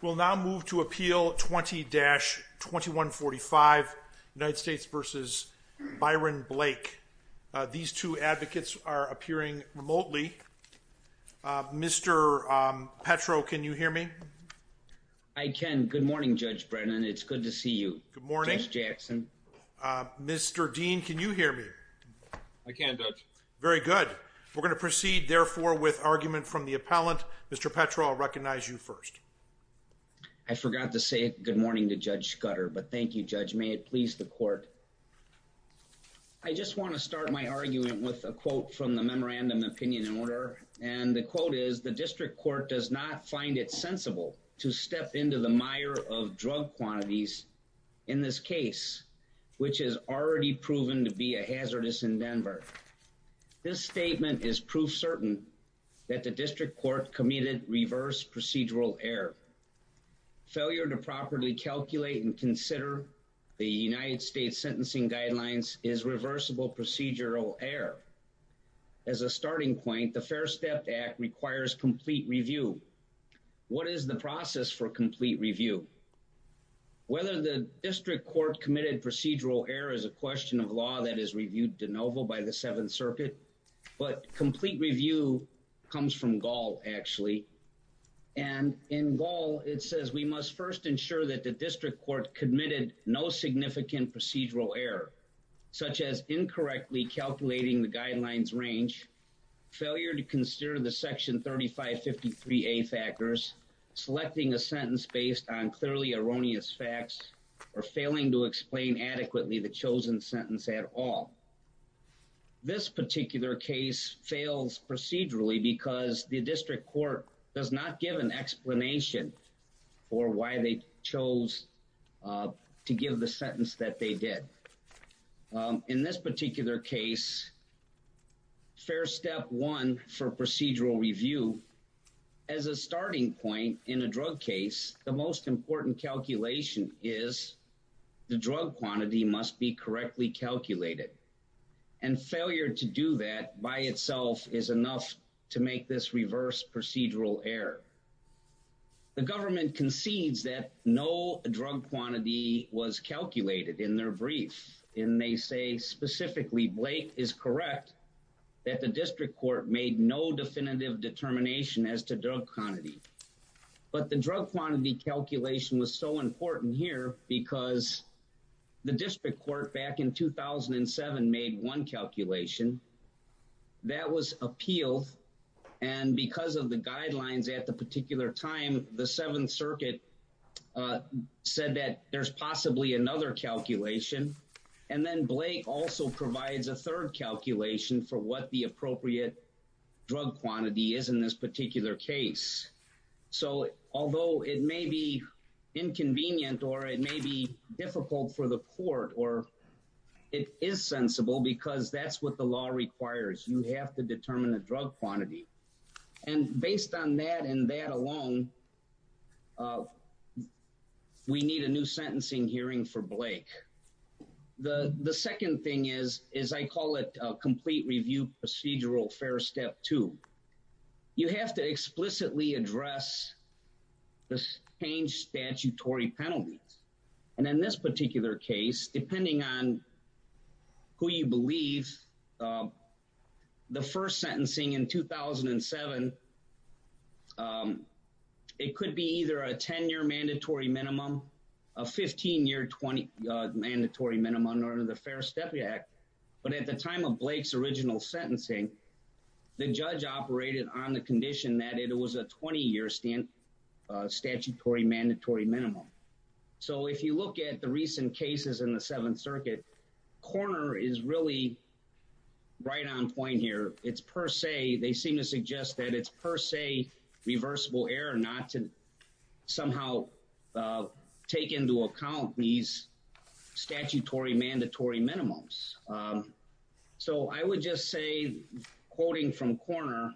We'll now move to Appeal 20-2145 United States v. Byron Blake. These two advocates are appearing remotely. Mr. Petro, can you hear me? I can. Good morning, Judge Brennan. It's good to see you. Good morning. Judge Jackson. Mr. Dean, can you hear me? I can, Judge. Very good. We're going to proceed, therefore, with argument from the appellant. Mr. Petro, I'll recognize you first. I forgot to say good morning to Judge Scudder, but thank you, Judge. May it please the Court. I just want to start my argument with a quote from the Memorandum of Opinion and Order. And the quote is, The District Court does not find it sensible to step into the mire of drug quantities in this case, which has already proven to be a hazardous endeavor. This statement is proof certain that the District Court committed reverse procedural error. Failure to properly calculate and consider the United States sentencing guidelines is reversible procedural error. As a starting point, the Fair Step Act requires complete review. What is the process for complete review? Whether the District Court committed procedural error is a question of law that is reviewed de novo by the Seventh Circuit. But complete review comes from Gaul, actually. And in Gaul, it says, We must first ensure that the District Court committed no significant procedural error, such as incorrectly calculating the guidelines range, failure to consider the Section 3553A factors, selecting a sentence based on clearly erroneous facts, or failing to explain adequately the chosen sentence at all. This particular case fails procedurally because the District Court does not give an explanation for why they chose to give the sentence that they did. In this particular case, Fair Step 1 for procedural review, as a starting point in a drug case, the most important calculation is the drug quantity must be correctly calculated. And failure to do that by itself is enough to make this reverse procedural error. The government concedes that no drug quantity was calculated in their brief, and they say specifically Blake is correct that the District Court made no definitive determination as to drug quantity. But the drug quantity calculation was so important here because the District Court back in 2007 made one calculation. That was appealed. And because of the guidelines at the particular time, the Seventh Circuit said that there's possibly another calculation. And then Blake also provides a third calculation for what the appropriate drug quantity is in this particular case. So although it may be inconvenient, or it may be difficult for the court, or it is sensible because that's what the law requires. You have to determine the drug quantity. And based on that and that alone, we need a new sentencing hearing for Blake. The second thing is, is I call it a complete review procedural Fair Step 2. You have to explicitly address the changed statutory penalties. And in this particular case, depending on who you believe, the first sentencing in 2007, it could be either a 10-year mandatory minimum, a 15-year mandatory minimum under the Fair Step Act. But at the time of Blake's original sentencing, the judge operated on the condition that it was a 20-year statutory mandatory minimum. So if you look at the recent cases in the Seventh Circuit, Corner is really right on point here. They seem to suggest that it's per se reversible error not to somehow take into account these statutory mandatory minimums. So I would just say, quoting from Corner,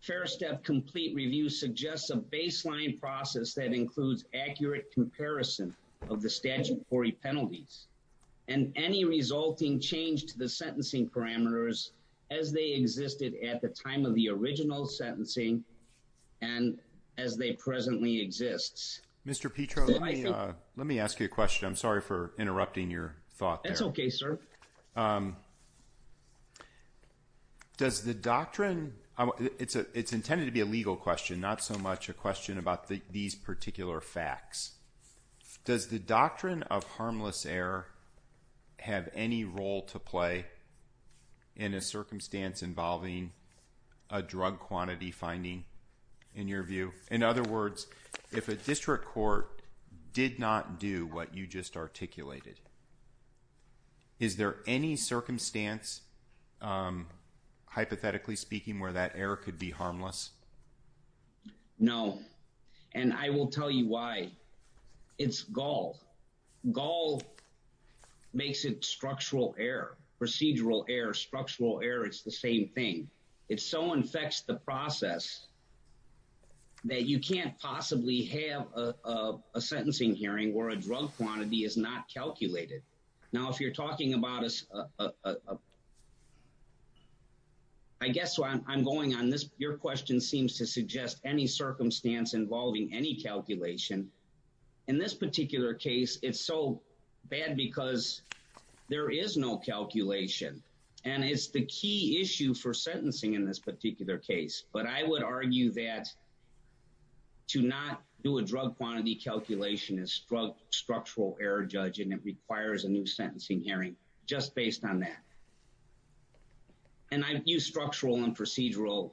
Fair Step complete review suggests a baseline process that includes accurate comparison of the statutory penalties and any resulting change to the sentencing parameters as they existed at the time of the original sentencing and as they presently exist. Mr. Petro, let me ask you a question. I'm sorry for interrupting your thought. That's OK, sir. Does the doctrine it's intended to be a legal question, not so much a question about these particular facts. Does the doctrine of harmless error have any role to play in a circumstance involving a drug quantity finding, in your view? In other words, if a district court did not do what you just articulated, is there any circumstance, hypothetically speaking, where that error could be harmless? No. And I will tell you why. It's gall. Gall makes it structural error, procedural error, structural error. It's the same thing. It so infects the process that you can't possibly have a sentencing hearing where a drug quantity is not calculated. Now, if you're talking about us. I guess I'm going on this. Your question seems to suggest any circumstance involving any calculation in this particular case. It's so bad because there is no calculation. And it's the key issue for sentencing in this particular case. But I would argue that to not do a drug quantity calculation is structural error, judge, and it requires a new sentencing hearing just based on that. And I use structural and procedural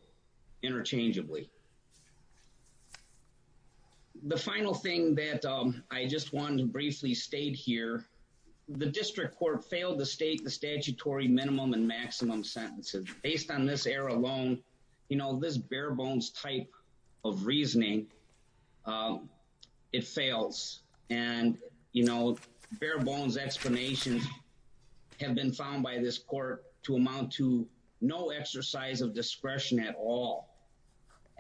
interchangeably. The final thing that I just want to briefly state here, the district court failed to state the statutory minimum and maximum sentences based on this error alone. And, you know, this bare bones type of reasoning, it fails. And, you know, bare bones explanations have been found by this court to amount to no exercise of discretion at all.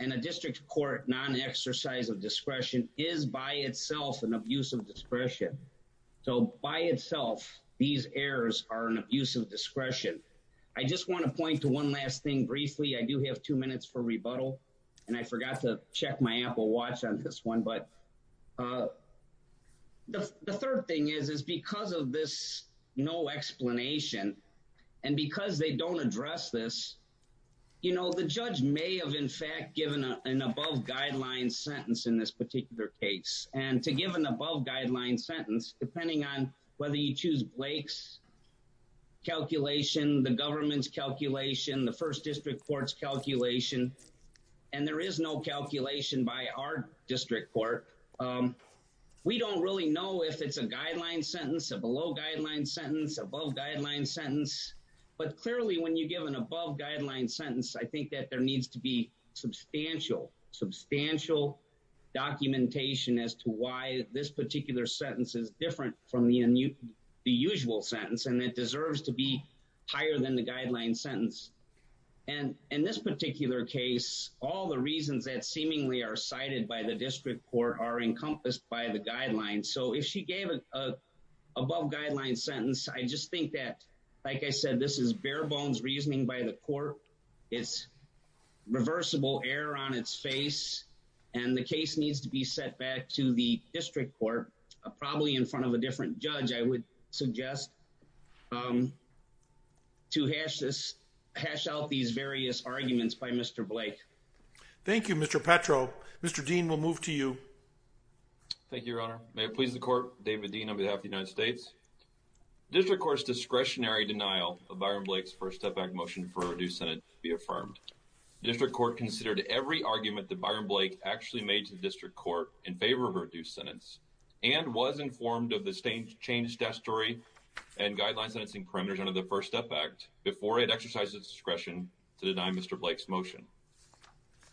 And a district court non-exercise of discretion is by itself an abuse of discretion. So by itself, these errors are an abuse of discretion. I just want to point to one last thing briefly. I do have two minutes for rebuttal. And I forgot to check my Apple watch on this one. But the third thing is, is because of this no explanation and because they don't address this, you know, the judge may have in fact given an above guideline sentence in this particular case. And to give an above guideline sentence, depending on whether you choose Blake's calculation, the government's calculation, the first district court's calculation, and there is no calculation by our district court. We don't really know if it's a guideline sentence, a below guideline sentence, above guideline sentence. But clearly when you give an above guideline sentence, I think that there needs to be substantial, substantial documentation as to why this particular sentence is different from the usual sentence. And it deserves to be higher than the guideline sentence. And in this particular case, all the reasons that seemingly are cited by the district court are encompassed by the guidelines. So if she gave an above guideline sentence, I just think that, like I said, this is bare bones reasoning by the court. It's reversible error on its face. And the case needs to be set back to the district court, probably in front of a different judge, I would suggest to hash out these various arguments by Mr. Blake. Thank you, Mr. Petro. Mr. Dean, we'll move to you. Thank you, Your Honor. May it please the court, David Dean on behalf of the United States. District court's discretionary denial of Byron Blake's First Step Act motion for a reduced sentence be affirmed. District court considered every argument that Byron Blake actually made to the district court in favor of her reduced sentence and was informed of the changed statutory and guideline sentencing parameters under the First Step Act before it exercised its discretion to deny Mr. Blake's motion.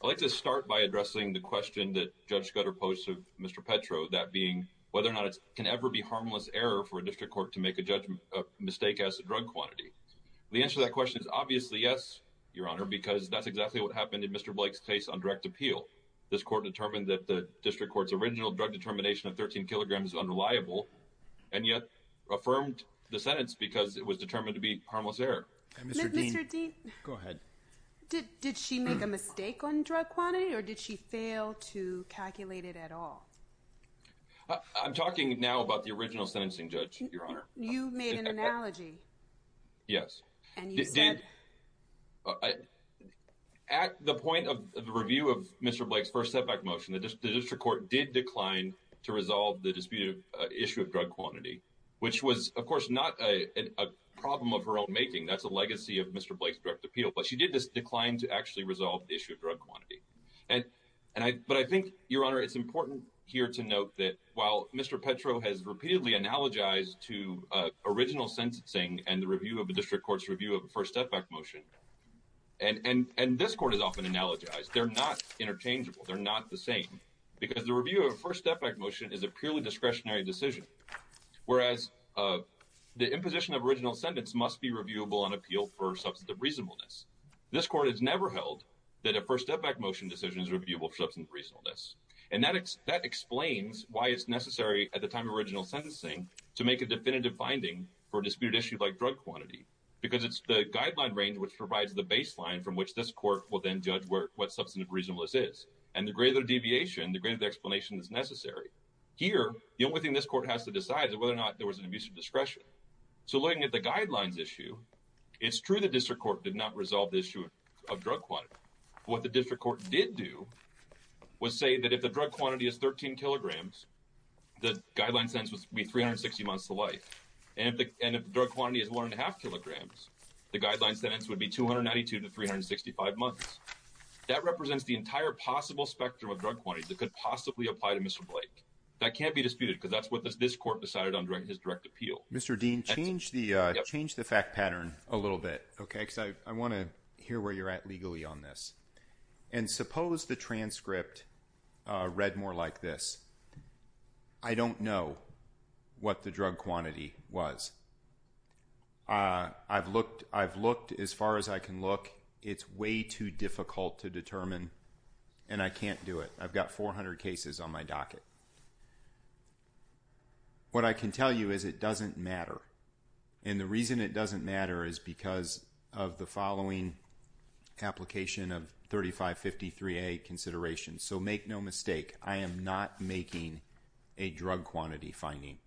I'd like to start by addressing the question that Judge Scudder posed to Mr. Petro, that being whether or not it can ever be harmless error for a district court to make a judgment mistake as a drug quantity. The answer to that question is obviously yes, Your Honor, because that's exactly what happened in Mr. Blake's case on direct appeal. This court determined that the district court's original drug determination of 13 kilograms is unreliable and yet affirmed the sentence because it was determined to be harmless error. Mr. Dean. Go ahead. Did she make a mistake on drug quantity or did she fail to calculate it at all? I'm talking now about the original sentencing judge, Your Honor. You made an analogy. Yes. And you said. At the point of the review of Mr. Blake's First Step Act motion, the district court did decline to resolve the disputed issue of drug quantity, which was, of course, not a problem of her own making. That's a legacy of Mr. Blake's direct appeal. But she did decline to actually resolve the issue of drug quantity. But I think, Your Honor, it's important here to note that while Mr. Petro has repeatedly analogized to original sentencing and the review of the district court's review of the First Step Act motion, and this court is often analogized, they're not interchangeable. They're not the same because the review of First Step Act motion is a purely discretionary decision, whereas the imposition of original sentence must be reviewable on appeal for substantive reasonableness. This court has never held that a First Step Act motion decision is reviewable for substantive reasonableness. And that explains why it's necessary at the time of original sentencing to make a definitive finding for a disputed issue like drug quantity because it's the guideline range which provides the baseline from which this court will then judge what substantive reasonableness is. And the greater the deviation, the greater the explanation that's necessary. Here, the only thing this court has to decide is whether or not there was an abuse of discretion. So looking at the guidelines issue, it's true the district court did not resolve the issue of drug quantity. What the district court did do was say that if the drug quantity is 13 kilograms, the guideline sentence would be 360 months to life. And if the drug quantity is 1.5 kilograms, the guideline sentence would be 292 to 365 months. That represents the entire possible spectrum of drug quantity that could possibly apply to Mr. Blake. That can't be disputed because that's what this court decided under his direct appeal. Mr. Dean, change the fact pattern a little bit, okay? Because I want to hear where you're at legally on this. And suppose the transcript read more like this. I don't know what the drug quantity was. I've looked as far as I can look. It's way too difficult to determine, and I can't do it. I've got 400 cases on my docket. What I can tell you is it doesn't matter. And the reason it doesn't matter is because of the following application of 3553A consideration. So make no mistake, I am not making a drug quantity finding.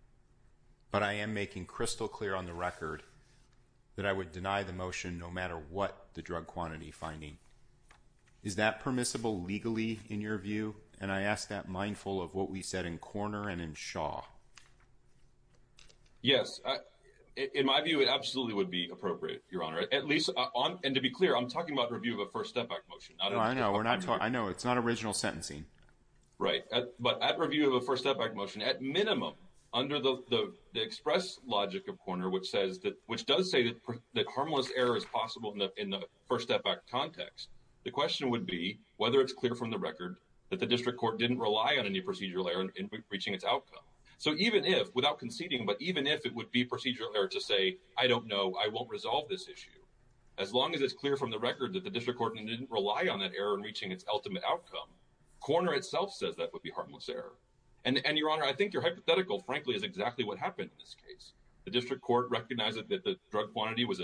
But I am making crystal clear on the record that I would deny the motion no matter what the drug quantity finding. Is that permissible legally in your view? And I ask that mindful of what we said in Korner and in Shaw. Yes. In my view, it absolutely would be appropriate, Your Honor. And to be clear, I'm talking about review of a first step back motion. I know. It's not original sentencing. Right. But at review of a first step back motion, at minimum, under the express logic of Korner, which does say that harmless error is possible in the first step back context, the question would be whether it's clear from the record that the district court didn't rely on any procedural error in reaching its outcome. So even if, without conceding, but even if it would be procedural error to say, I don't know, I won't resolve this issue, as long as it's clear from the record that the district court didn't rely on that error in reaching its ultimate outcome, Korner itself says that would be harmless error. And, Your Honor, I think your hypothetical, frankly, is exactly what happened in this case. The district court recognized that the drug quantity was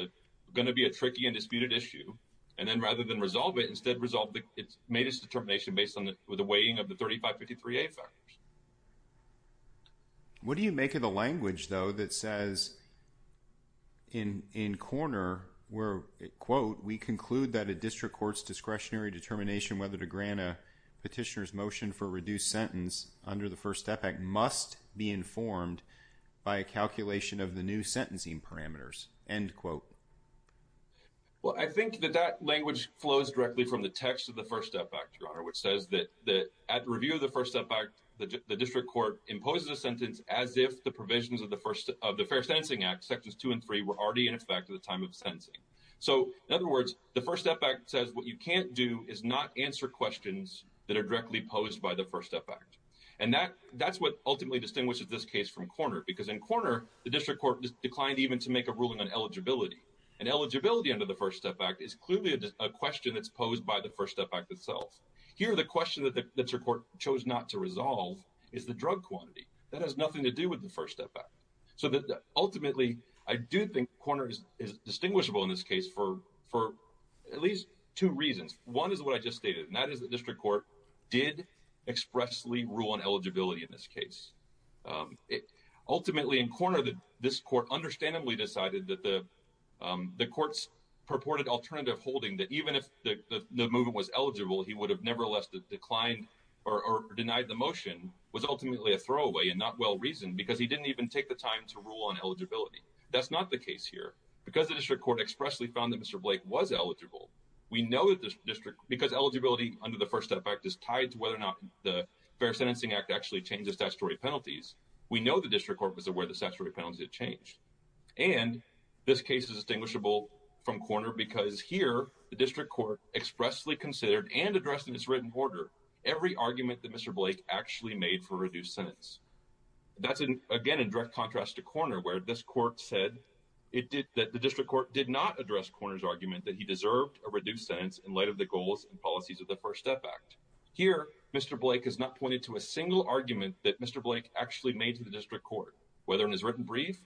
going to be a tricky and disputed issue. And then rather than resolve it, instead resolved it, made its determination based on the weighing of the 3553A factors. What do you make of the language, though, that says in Korner where, quote, we conclude that a district court's discretionary determination whether to grant a petitioner's motion for reduced sentence under the first step back must be informed by a calculation of the new sentencing parameters, end quote. Well, I think that that language flows directly from the text of the First Step Act, Your Honor, which says that at review of the First Step Act, the district court imposes a sentence as if the provisions of the Fair Sentencing Act, sections two and three, were already in effect at the time of sentencing. So, in other words, the First Step Act says what you can't do is not answer questions that are directly posed by the First Step Act. And that's what ultimately distinguishes this case from Korner, because in Korner, the district court declined even to make a ruling on eligibility. And eligibility under the First Step Act is clearly a question that's posed by the First Step Act itself. Here, the question that the district court chose not to resolve is the drug quantity. That has nothing to do with the First Step Act. So ultimately, I do think Korner is distinguishable in this case for at least two reasons. One is what I just stated, and that is the district court did expressly rule on eligibility in this case. Ultimately, in Korner, this court understandably decided that the court's purported alternative holding that even if the movement was eligible, he would have nevertheless declined or denied the motion was ultimately a throwaway and not well-reasoned, because he didn't even take the time to rule on eligibility. That's not the case here. Because the district court expressly found that Mr. Blake was eligible, because eligibility under the First Step Act is tied to whether or not the Fair Sentencing Act actually changes statutory penalties, we know the district court was aware the statutory penalties had changed. And this case is distinguishable from Korner because here, the district court expressly considered and addressed in its written order every argument that Mr. Blake actually made for a reduced sentence. That's, again, in direct contrast to Korner, where this court said that the district court did not address Korner's argument that he deserved a reduced sentence in light of the goals and policies of the First Step Act. Here, Mr. Blake has not pointed to a single argument that Mr. Blake actually made to the district court, whether in his written brief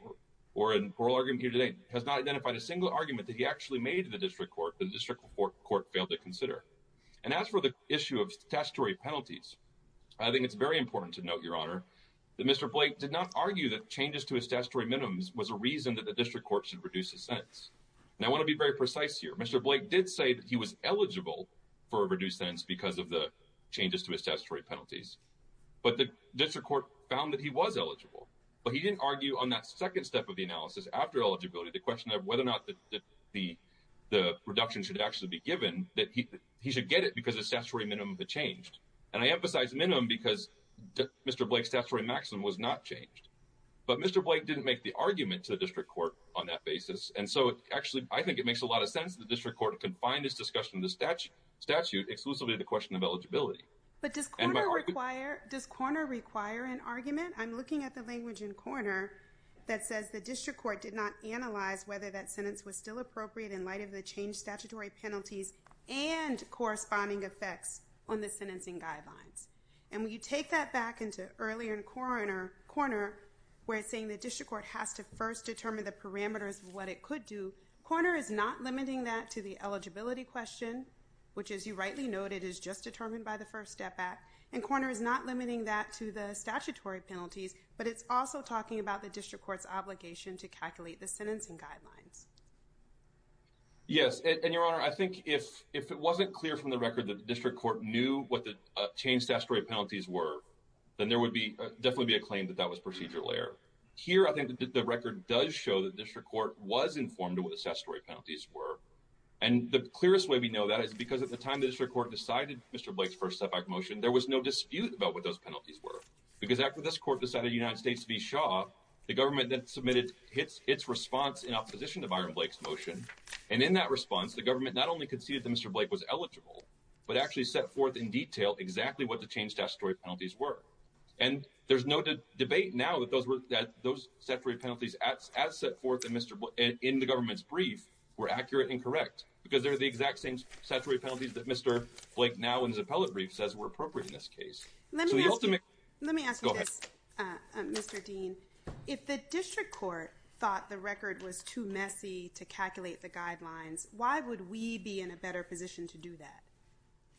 or in oral argument here today, has not identified a single argument that he actually made to the district court that the district court failed to consider. And as for the issue of statutory penalties, I think it's very important to note, Your Honor, that Mr. Blake did not argue that changes to his statutory minimums was a reason that the district court should reduce his sentence. And I want to be very precise here. Mr. Blake did say that he was eligible for a reduced sentence because of the changes to his statutory penalties. But the district court found that he was eligible. But he didn't argue on that second step of the analysis after eligibility, the question of whether or not the reduction should actually be given, that he should get it because the statutory minimum had changed. And I emphasize minimum because Mr. Blake's statutory maximum was not changed. But Mr. Blake didn't make the argument to the district court on that basis. And so, actually, I think it makes a lot of sense that the district court can find this discussion in the statute exclusively the question of eligibility. But does Korner require an argument? I'm looking at the language in Korner that says the district court did not analyze whether that sentence was still appropriate in light of the changed statutory penalties and corresponding effects on the sentencing guidelines. And when you take that back into earlier in Korner where it's saying the district court has to first determine the parameters of what it could do, Korner is not limiting that to the eligibility question, which, as you rightly noted, is just determined by the first step act. And Korner is not limiting that to the statutory penalties, but it's also talking about the district court's obligation to calculate the sentencing guidelines. Yes. And, Your Honor, I think if it wasn't clear from the record that the district court knew what the changed statutory penalties were, then there would definitely be a claim that that was procedure layer. Here, I think the record does show that the district court was informed of what the statutory penalties were. And the clearest way we know that is because at the time the district court decided Mr. Blake's first step act motion, there was no dispute about what those penalties were. Because after this court decided the United States to be Shaw, the government then submitted its response in opposition to Byron Blake's motion. And in that response, the government not only conceded that Mr. Blake was eligible, but actually set forth in detail exactly what the changed statutory penalties were. And there's no debate now that those statutory penalties as set forth in the government's brief were accurate and correct, because they're the exact same statutory penalties that Mr. Blake now in his appellate brief says were appropriate in this case. Let me ask you this, Mr. Dean. If the district court thought the record was too messy to calculate the guidelines, why would we be in a better position to do that?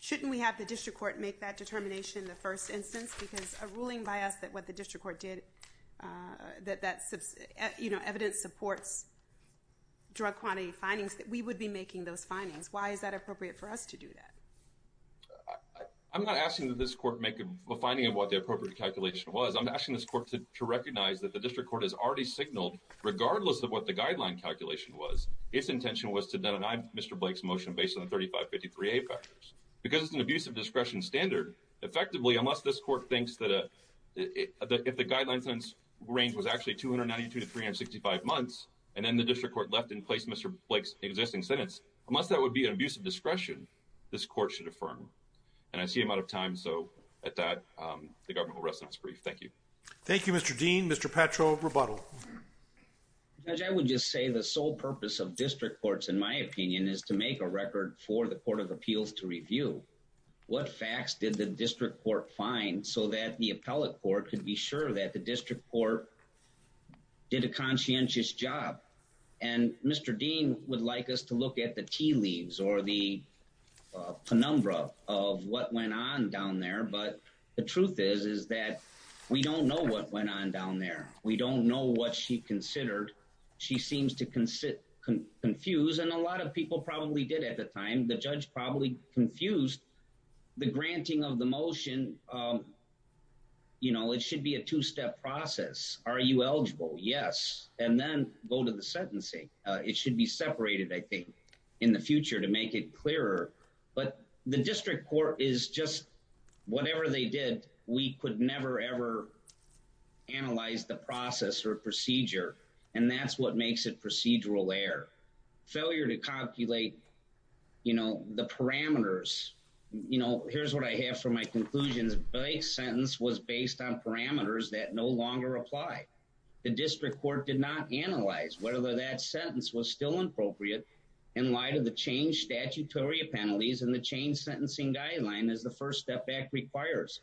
Shouldn't we have the district court make that determination in the first instance? Because a ruling by us that what the district court did, that that evidence supports drug quantity findings, that we would be making those findings. Why is that appropriate for us to do that? I'm not asking that this court make a finding of what the appropriate calculation was. I'm asking this court to recognize that the district court has already signaled, regardless of what the guideline calculation was, its intention was to deny Mr. Blake's motion based on 3553A factors. Because it's an abusive discretion standard, effectively, unless this court thinks that if the guideline sentence range was actually 292 to 365 months, and then the district court left in place Mr. Blake's existing sentence, unless that would be an abusive discretion, this court should affirm. And I see I'm out of time, so at that, the government will rest on its brief. Thank you. Thank you, Mr. Dean. Mr. Petro, rebuttal. Judge, I would just say the sole purpose of district courts, in my opinion, is to make a record for the Court of Appeals to review. What facts did the district court find so that the appellate court could be sure that the district court did a conscientious job? And Mr. Dean would like us to look at the tea leaves or the penumbra of what went on down there. But the truth is, is that we don't know what went on down there. We don't know what she considered. She seems to confuse, and a lot of people probably did at the time. The judge probably confused the granting of the motion. You know, it should be a two-step process. Are you eligible? Yes. And then go to the sentencing. It should be separated, I think, in the future to make it clearer. But the district court is just whatever they did, we could never, ever analyze the process or procedure. And that's what makes it procedural error. Failure to calculate, you know, the parameters. You know, here's what I have for my conclusions. Blake's sentence was based on parameters that no longer apply. The district court did not analyze whether that sentence was still appropriate in light of the change statutory penalties and the change sentencing guideline as the First Step Act requires.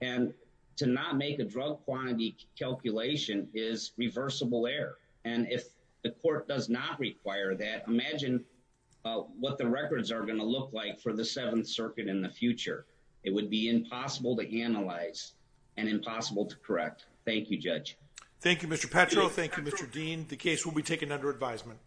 And to not make a drug quantity calculation is reversible error. And if the court does not require that, imagine what the records are going to look like for the Seventh Circuit in the future. It would be impossible to analyze and impossible to correct. Thank you, Judge. Thank you, Mr. Petro. Thank you, Mr. Dean. The case will be taken under advisement.